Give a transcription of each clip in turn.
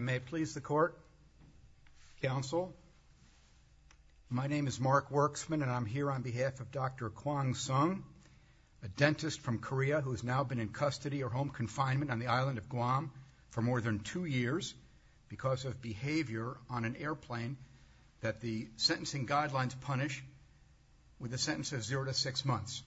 May it please the court, counsel, my name is Mark Werksman and I'm here on behalf of Dr. Kwon Sung, a dentist from Korea who has now been in custody or home confinement on the island of Guam for more than two years because of behavior on an airplane that the sentencing guidelines punish with a sentence of zero to six months.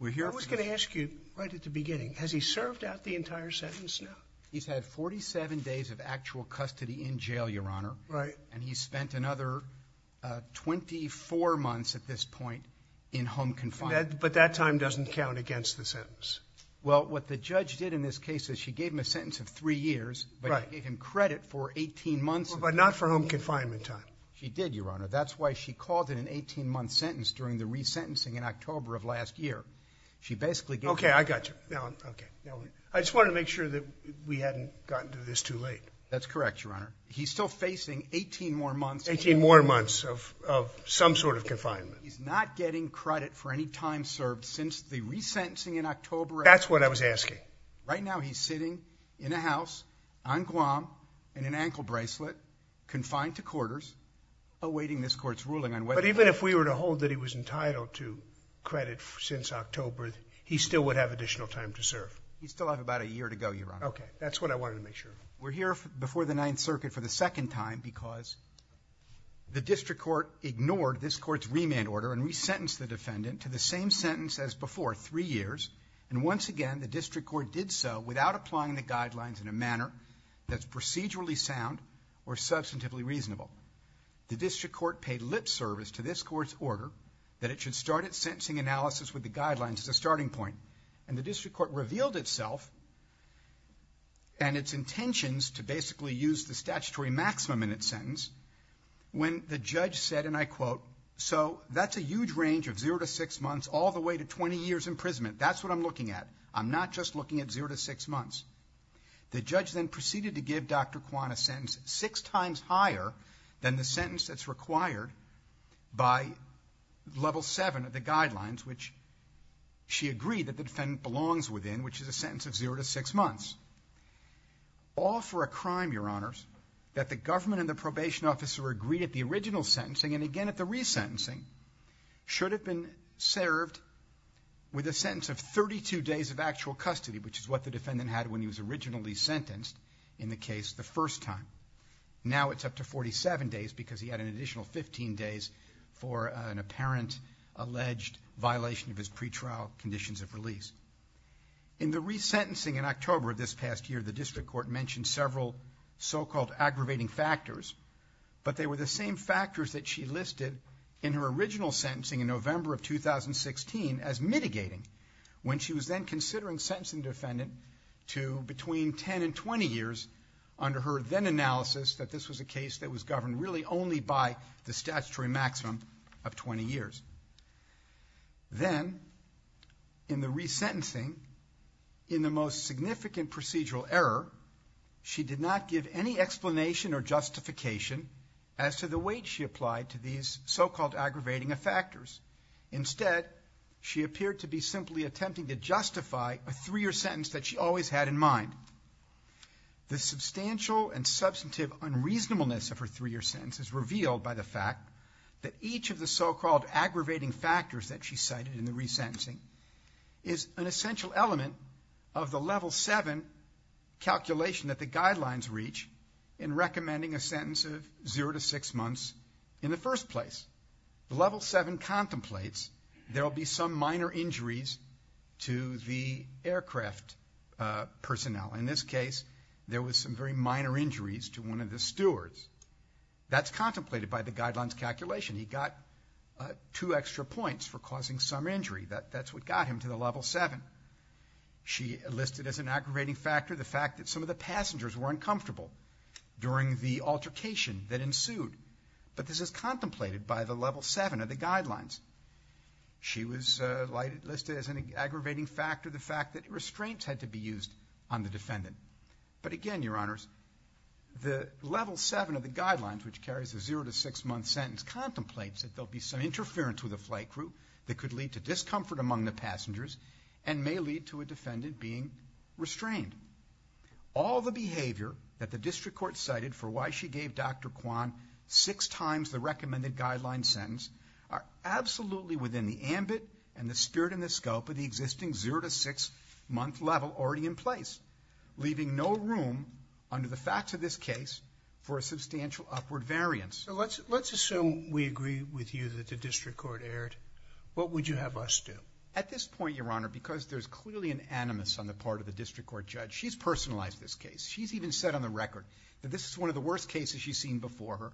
I was going to ask you right at the beginning, has he served out the entire sentence now? He's had 47 days of actual custody in jail, your honor. Right. And he spent another 24 months at this point in home confinement. But that time doesn't count against the sentence. Well, what the judge did in this case is she gave him a sentence of three years, but gave him credit for 18 months. But not for home confinement time. She did, your honor. That's why she called it an 18 month sentence during the resentencing in October of last year. She basically gave him... Okay, I got you. I just wanted to make sure that we hadn't gotten to this too late. That's correct, your honor. He's still facing 18 more months. 18 more months of some sort of confinement. He's not getting credit for any time served since the resentencing in October. That's what I was asking. Right now he's sitting in a house on Guam in an ankle bracelet confined to quarters awaiting this court's ruling. But even if we were to hold that he was entitled to credit since October, he still would have additional time to serve. He'd still have about a year to go, your honor. Okay, that's what I wanted to make sure. We're here before the Ninth Circuit for the second time because the district court ignored this court's remand order and resentenced the defendant to the same sentence as before, three years. And once again, the district court did so without applying the guidelines in a manner that's procedurally sound or substantively reasonable. The district court paid lip service to this court's order that it should start its sentencing analysis with the guidelines as a starting point. And the district court revealed itself and its intentions to basically use the statutory maximum in its sentence when the judge said, and I quote, so that's a huge range of zero to six months all the way to 20 years imprisonment. That's what I'm looking at. I'm not just looking at zero to six months. The judge then proceeded to give Dr. Kwan a sentence six times higher than the sentence that's within which is a sentence of zero to six months. All for a crime, your honors, that the government and the probation officer agreed at the original sentencing and again at the resentencing should have been served with a sentence of 32 days of actual custody, which is what the defendant had when he was originally sentenced in the case the first time. Now it's up to 47 days because he had an apparent alleged violation of his pretrial conditions of release. In the resentencing in October of this past year, the district court mentioned several so-called aggravating factors, but they were the same factors that she listed in her original sentencing in November of 2016 as mitigating when she was then considering sentencing the defendant to between 10 and 20 years under her then analysis that this was a case that was governed really only by the statutory maximum of 20 years. Then in the resentencing, in the most significant procedural error, she did not give any explanation or justification as to the weight she applied to these so-called aggravating factors. Instead, she appeared to be simply attempting to justify a three-year sentence that she always had in mind. The substantial and substantive unreasonableness of her three-year sentence is revealed by the fact that each of the so-called aggravating factors that she cited in the resentencing is an essential element of the Level 7 calculation that the guidelines reach in recommending a sentence of zero to six months in the first place. The Level 7 contemplates there'll be some minor injuries to the aircraft personnel. In this case, there was some very minor injuries to one of the stewards. That's contemplated by the guidelines calculation. He got two extra points for causing some injury. That's what got him to the Level 7. She listed as an aggravating factor the fact that some of the passengers were uncomfortable during the altercation that ensued, but this is contemplated by the Level 7 of the guidelines. She was listed as an aggravating factor the fact that restraints had to be used on the defendant. But again, Your Honors, the Level 7 of the guidelines, which carries a zero to six-month sentence, contemplates that there'll be some interference with the flight crew that could lead to discomfort among the passengers and may lead to a defendant being restrained. All the behavior that the district court cited for why she gave Dr. Kwan six times the recommended guideline sentence are absolutely within the ambit and the spirit and the scope of the existing zero to six-month level already in place, leaving no room under the facts of this case for a substantial upward variance. So let's let's assume we agree with you that the district court erred. What would you have us do? At this point, Your Honor, because there's clearly an animus on the part of the district court judge, she's personalized this case. She's even said on the record that this is one of the worst cases she's seen before her,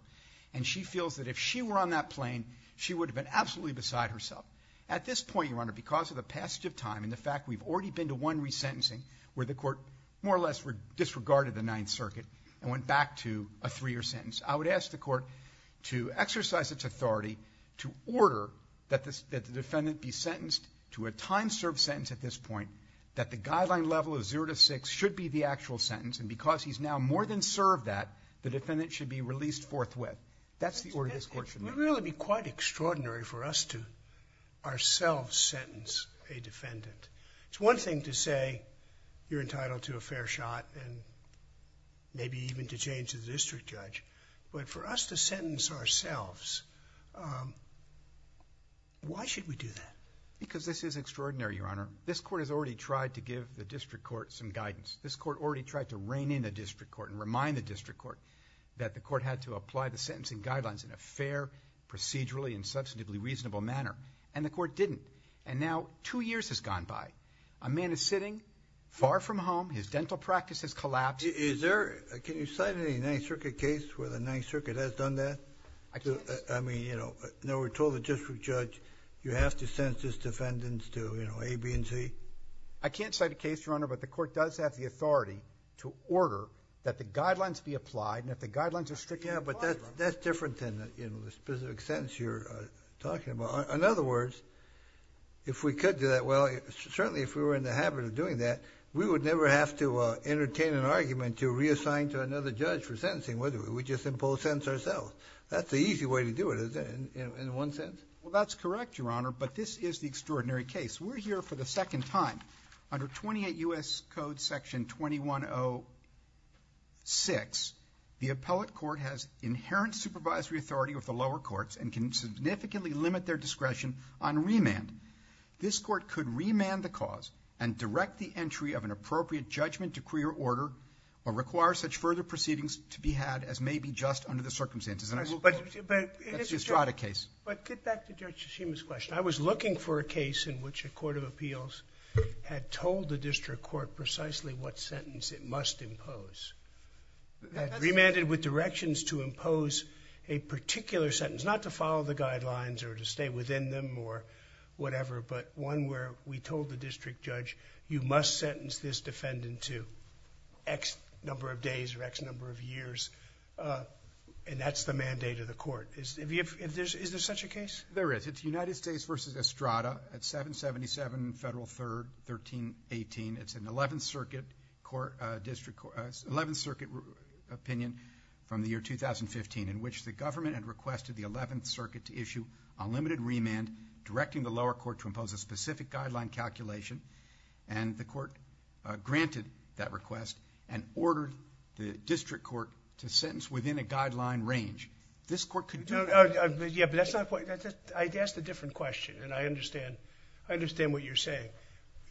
and she feels that if she were on that plane, she would have been absolutely beside herself. At this point, Your Honor, because of the passage of time and the fact we've already been to one resentencing where the court more or less disregarded the Ninth Circuit and went back to a three-year sentence, I would ask the court to exercise its authority to order that the defendant be sentenced to a time-served sentence at this point, that the guideline level of zero to six should be the actual sentence, and because he's now more than served that, the defendant should be released forthwith. That's the order this court should make. It would really be quite extraordinary for us to ourselves sentence a defendant. It's one thing to say you're entitled to a fair shot and maybe even to change the district judge, but for us to sentence ourselves, why should we do that? Because this is extraordinary, Your Honor. This court has already tried to give the district court some guidance. This court already tried to rein in a district court and remind the district court that the court had to apply the sentencing guidelines in a fair, procedurally, and substantively reasonable manner, and the court didn't, and now two years has gone by. A man is sitting far from home. His dental practice has collapsed. Is there, can you cite any Ninth Circuit case where the Ninth Circuit has done that? I mean, you know, now we're told the district judge you have to sentence defendants to, you know, A, B, and C. I can't cite a case, Your Honor, but the court does have the authority to order that the guidelines be applied, and if the guidelines are stricter, you apply them. Yeah, but that's different than, you know, the specific sentence you're talking about. In other words, if we could do that, well, certainly if we were in the habit of doing that, we would never have to entertain an argument to reassign to another judge for sentencing, would we? We just impose sentence ourselves. That's the easy way to do it, isn't it, in one sense? Well, that's correct, Your Honor, but this is the extraordinary case. We're here for the appellate court has inherent supervisory authority of the lower courts and can significantly limit their discretion on remand. This court could remand the cause and direct the entry of an appropriate judgment, decree, or order, or require such further proceedings to be had as may be just under the circumstances, and I will, that's the Estrada case. But get back to Judge Shishima's question. I was looking for a case in which a court of appeals had told the district court precisely what remanded with directions to impose a particular sentence, not to follow the guidelines or to stay within them or whatever, but one where we told the district judge, you must sentence this defendant to X number of days or X number of years, and that's the mandate of the court. Is there such a case? There is. It's United States v. Estrada at 777 Federal 3rd 1318. It's an 11th Circuit opinion from the year 2015 in which the government had requested the 11th Circuit to issue a limited remand directing the lower court to impose a specific guideline calculation, and the court granted that request and ordered the district court to sentence within a guideline range. This court could... I asked a different question, and I understand what you're saying.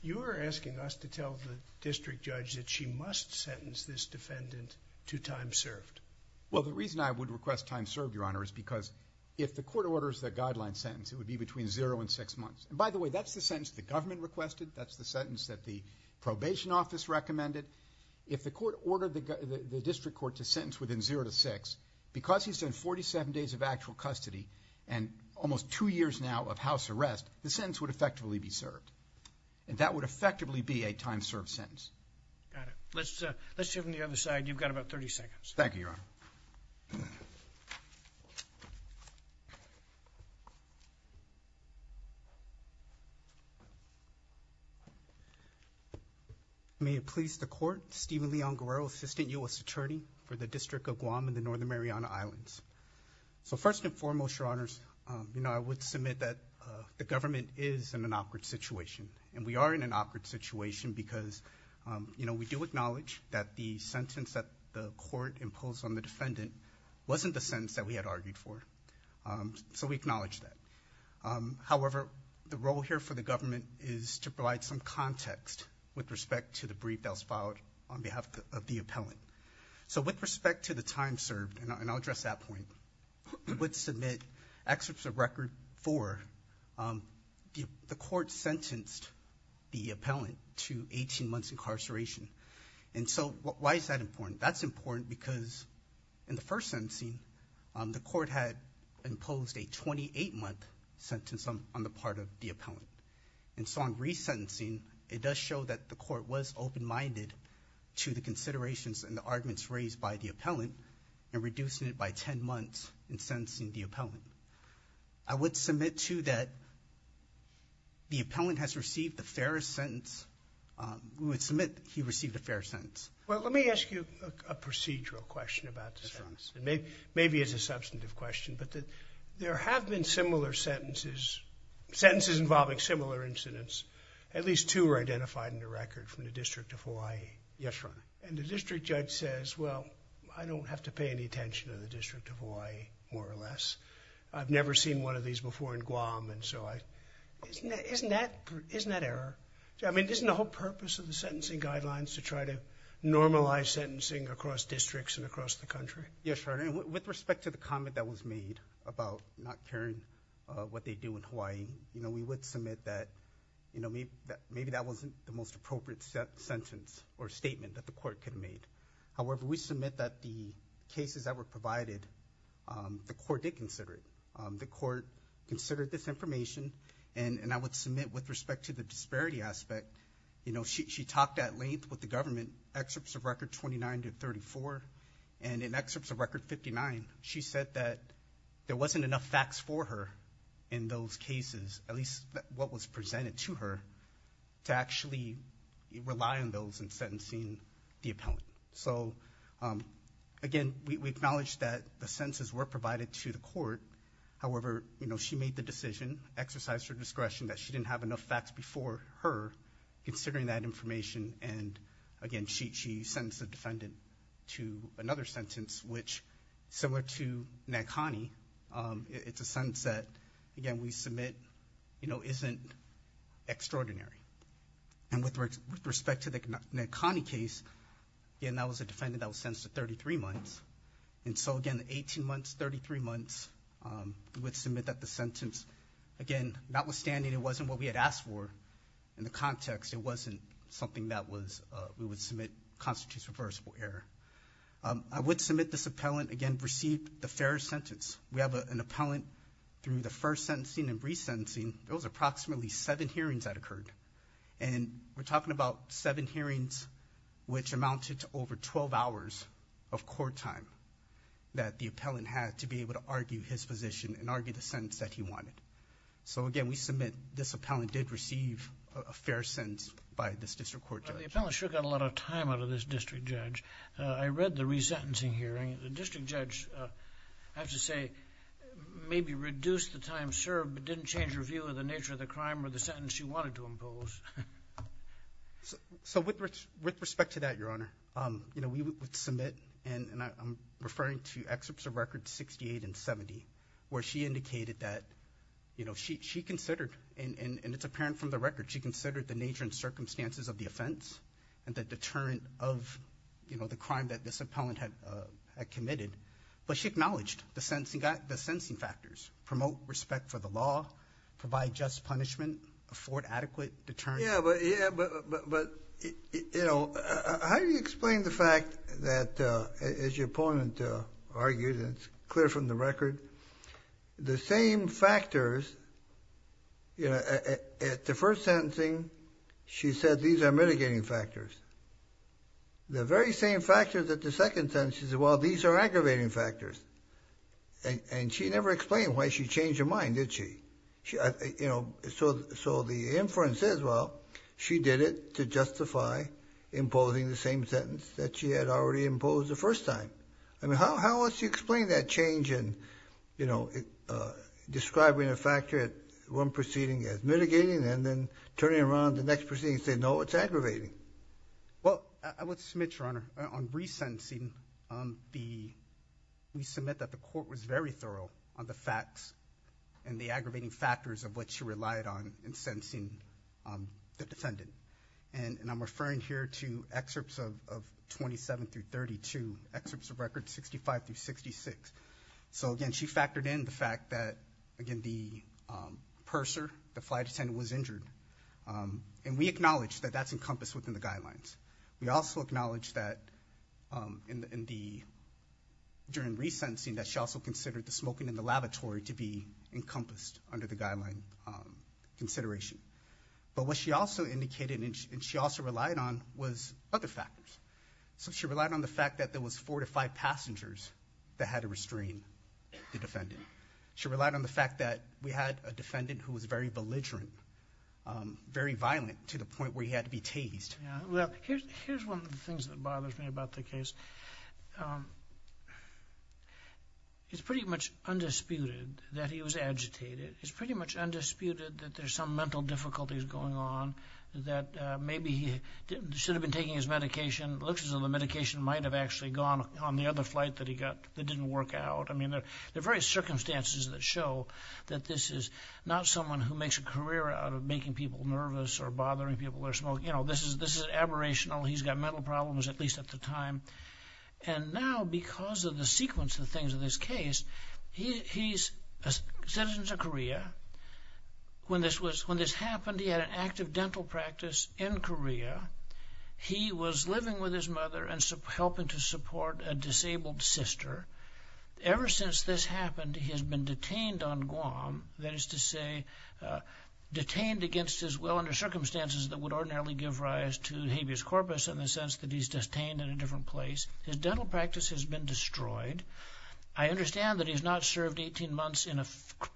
You are asking us to tell the district judge that she must sentence this defendant to time served. Well, the reason I would request time served, Your Honor, is because if the court orders the guideline sentence, it would be between zero and six months, and by the way, that's the sentence the government requested. That's the sentence that the probation office recommended. If the court ordered the district court to sentence within zero to six, because he's in 47 days of actual custody and almost two years now of house arrest, the sentence would effectively be served, and that would effectively be a time served sentence. Got it. Let's see from the other side. You've got about 30 seconds. Thank you, Your Honor. May it please the court, Steven Leon Guerrero, Assistant U.S. Attorney for the District of Guam and the Northern Mariana Islands. So first and foremost, Your Honors, you know, I would submit that the government is in an awkward situation, and we are in an awkward situation because, you know, we do acknowledge that the sentence that the court imposed on the defendant wasn't the sentence that we had argued for, so we acknowledge that. However, the role here for the government is to provide some context with respect to the brief that was filed on behalf of the appellant. So with respect to the time served, and I'll address that point, I would submit excerpts of record for the court sentenced the appellant to 18 months incarceration. And so why is that important? That's important because in the first sentencing, the court had imposed a 28-month sentence on the part of the appellant. And so on resentencing, it does show that the court was open-minded to the considerations and the arguments raised by the appellant, and reducing it by 10 months in sentencing the appellant. I would submit, too, that the appellant has received the fairest sentence. We would submit he received a fair sentence. Well, let me ask you a procedural question about this, Your Honor. Maybe it's a substantive question, but there have been similar sentences, sentences involving similar incidents. At least two were identified in the record from the District of Hawaii. Yes, Your Honor. And the district judge says, well, I don't have to pay attention to the District of Hawaii, more or less. I've never seen one of these before in Guam, and so isn't that error? I mean, isn't the whole purpose of the sentencing guidelines to try to normalize sentencing across districts and across the country? Yes, Your Honor. And with respect to the comment that was made about not caring what they do in Hawaii, you know, we would submit that, you know, maybe that wasn't the most appropriate sentence or however we submit that the cases that were provided, the court did consider it. The court considered this information, and I would submit with respect to the disparity aspect, you know, she talked at length with the government excerpts of record 29 to 34, and in excerpts of record 59, she said that there wasn't enough facts for her in those cases, at least what was presented to her, to actually rely on those in sentencing the appellant. So again, we acknowledge that the sentences were provided to the court. However, you know, she made the decision, exercised her discretion, that she didn't have enough facts before her considering that information, and again, she sentenced the defendant to another sentence, which, similar to Nankani, it's a sentence that, again, we submit, you know, wasn't extraordinary. And with respect to the Nankani case, again, that was a defendant that was sentenced to 33 months, and so again, 18 months, 33 months, we would submit that the sentence, again, notwithstanding it wasn't what we had asked for in the context, it wasn't something that we would submit constitutes reversible error. I would submit this appellant, again, received the fairest sentence. We have an approximately seven hearings that occurred, and we're talking about seven hearings, which amounted to over 12 hours of court time that the appellant had to be able to argue his position and argue the sentence that he wanted. So again, we submit this appellant did receive a fair sentence by this district court judge. The appellant sure got a lot of time out of this district judge. I read the resentencing hearing. The district judge, I have to say, maybe reduced the time served, but didn't change her view of the nature of the crime or the sentence she wanted to impose. So with respect to that, Your Honor, you know, we would submit, and I'm referring to excerpts of records 68 and 70, where she indicated that, you know, she considered, and it's apparent from the record, she considered the nature and circumstances of the offense and the deterrent of, you know, the crime that this appellant had committed, but she acknowledged the sentencing factors, promote respect for the law, provide just punishment, afford adequate deterrence. Yeah, but, you know, how do you explain the fact that, as your opponent argued, and it's clear from the record, the same factors, you know, at the first sentencing, she said these are mitigating factors. The very same factors at the second sentence, she said, well, these are aggravating factors, and she never explained why she changed her mind, did she? You know, so the inference is, well, she did it to justify imposing the same sentence that she had already imposed the first time. I mean, how else do you explain that change in, you know, describing a factor at one proceeding as mitigating and then turning around the next proceeding and saying, no, it's aggravating? Well, I would submit, Your Honor, on resentencing, we submit that the court was very thorough on the facts and the aggravating factors of what she relied on in sentencing the defendant, and I'm referring here to excerpts of 27 through 32, excerpts of records 65 through 66. So, again, she factored in the fact that, again, the purser, the flight attendant, was injured, and we acknowledge that that's encompassed within the guidelines. We also acknowledge that, during resentencing, that she also considered the smoking in the lavatory to be encompassed under the guideline consideration. But what she also indicated, and she also relied on, was other factors. So she relied on the fact that there was four to five passengers that had to restrain the defendant. She relied on the fact that we was very belligerent, very violent, to the point where he had to be tased. Here's one of the things that bothers me about the case. It's pretty much undisputed that he was agitated. It's pretty much undisputed that there's some mental difficulties going on, that maybe he should have been taking his medication, looks as though the medication might have actually gone on the other flight that he got that didn't work out. I mean, there are various circumstances that show that this is not someone who makes a career out of making people nervous or bothering people with their smoking. You know, this is aberrational. He's got mental problems, at least at the time. And now, because of the sequence of things in this case, he's a citizen of Korea. When this happened, he had an active dental practice in Korea. He was living with his mother and helping to support a disabled sister. Ever since this happened, he has been detained on Guam. That is to say, detained against his will under circumstances that would ordinarily give rise to habeas corpus in the sense that he's detained in a different place. His dental practice has been destroyed. I understand that he's not served 18 months in a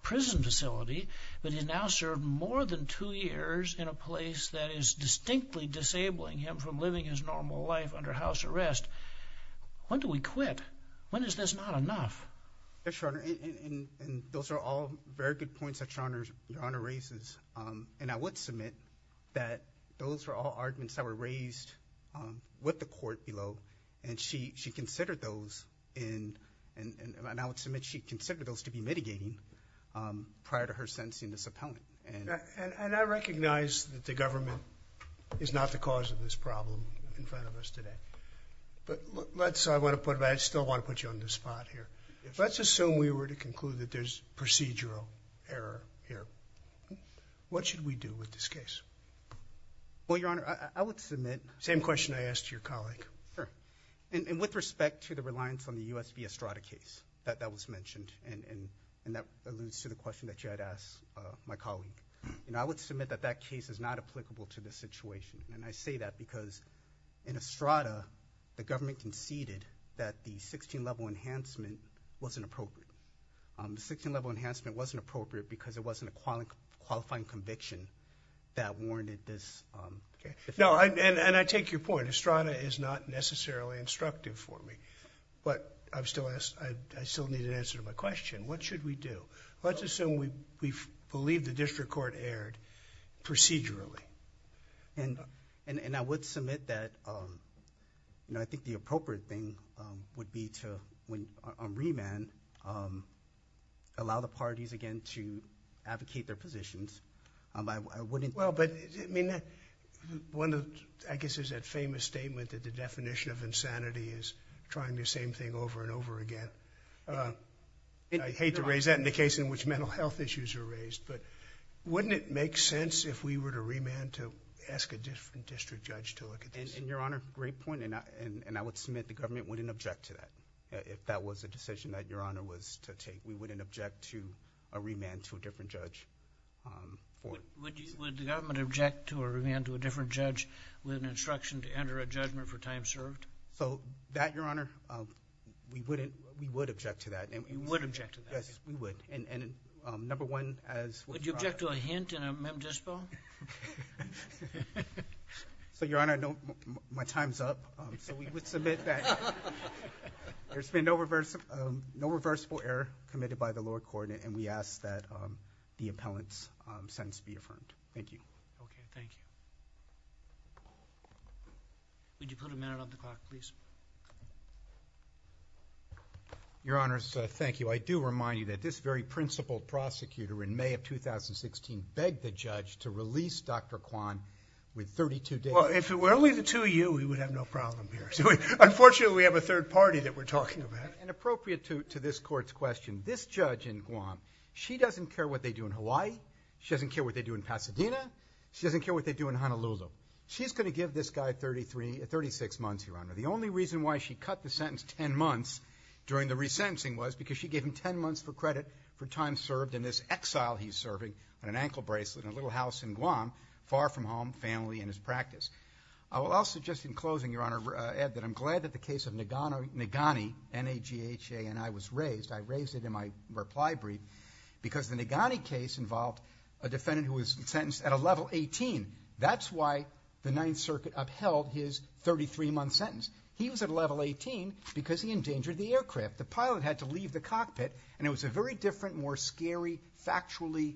prison facility, but he's now served more than two years in a place that is distinctly disabling him from living his normal life under house arrest. When do we quit? When is this not enough? Yes, Your Honor. And those are all very good points that Your Honor raises. And I would submit that those are all arguments that were raised with the court below. And she considered those, and I would submit she considered those to be mitigating prior to her sentencing this appellant. And I recognize that the government is not the cause of this problem in front of us today. But let's, I want to put, I still want to put you on the spot here. Let's assume we were to conclude that there's procedural error here. What should we do with this case? Well, Your Honor, I would submit same question I asked your colleague. And with respect to the reliance on the USB Estrada case that that was mentioned, and that alludes to the question that you had asked my colleague, you know, I would submit that that case is not applicable to this case. Estrada, the government conceded that the 16-level enhancement wasn't appropriate. The 16-level enhancement wasn't appropriate because it wasn't a qualifying conviction that warranted this. No, and I take your point. Estrada is not necessarily instructive for me. But I've still asked, I still need an answer to my question. What should we do? Let's assume we believe the appropriate thing would be to, on remand, allow the parties again to advocate their positions. I wouldn't... Well, but, I mean, that, one of, I guess is that famous statement that the definition of insanity is trying the same thing over and over again. I hate to raise that in the case in which mental health issues are raised. But wouldn't it make sense if we were to remand to ask a different judge? That's a great point, and I would submit the government wouldn't object to that, if that was a decision that Your Honor was to take. We wouldn't object to a remand to a different judge. Would the government object to a remand to a different judge with an instruction to enter a judgment for time served? So, that, Your Honor, we wouldn't, we would object to that. You would object to that? Yes, we would. And, number one, as... Would you object to a hint in a mem up, so we would submit that there's been no reversible error committed by the lower coordinate, and we ask that the appellant's sentence be affirmed. Thank you. Okay, thank you. Would you put a minute on the clock, please? Your Honors, thank you. I do remind you that this very principled prosecutor in May of 2016 begged the judge to release Dr. Kwan with 32 days. Well, if it were only the two of you, we would have no problem here. So, unfortunately, we have a third party that we're talking about. And appropriate to this court's question, this judge in Guam, she doesn't care what they do in Hawaii. She doesn't care what they do in Pasadena. She doesn't care what they do in Honolulu. She's going to give this guy 33, 36 months, Your Honor. The only reason why she cut the sentence 10 months during the resentencing was because she gave him 10 months for credit for time served in this exile he's serving on an ankle bracelet in a little house in Guam, far from home, family, and his practice. I will also, just in closing, Your Honor, add that I'm glad that the case of Nagani, N-A-G-H-A-N-I, was raised. I raised it in my reply brief because the Nagani case involved a defendant who was sentenced at a level 18. That's why the Ninth Circuit upheld his 33-month sentence. He was at level 18 because he endangered the aircraft. The pilot had to leave the cockpit, and it was a very different, more scary, factually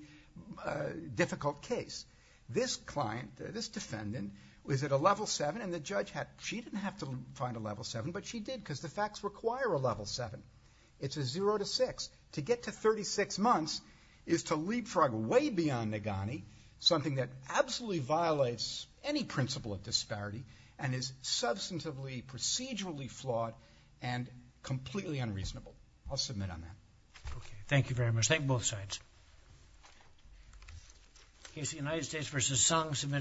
difficult case. This client, this defendant, was at a level 7, and the judge had, she didn't have to find a level 7, but she did because the facts require a level 7. It's a 0 to 6. To get to 36 months is to leapfrog way beyond Nagani, something that absolutely violates any principle of disparity and is substantively procedurally flawed and completely unreasonable. I'll submit on that. Okay, thank you very much. Thank you.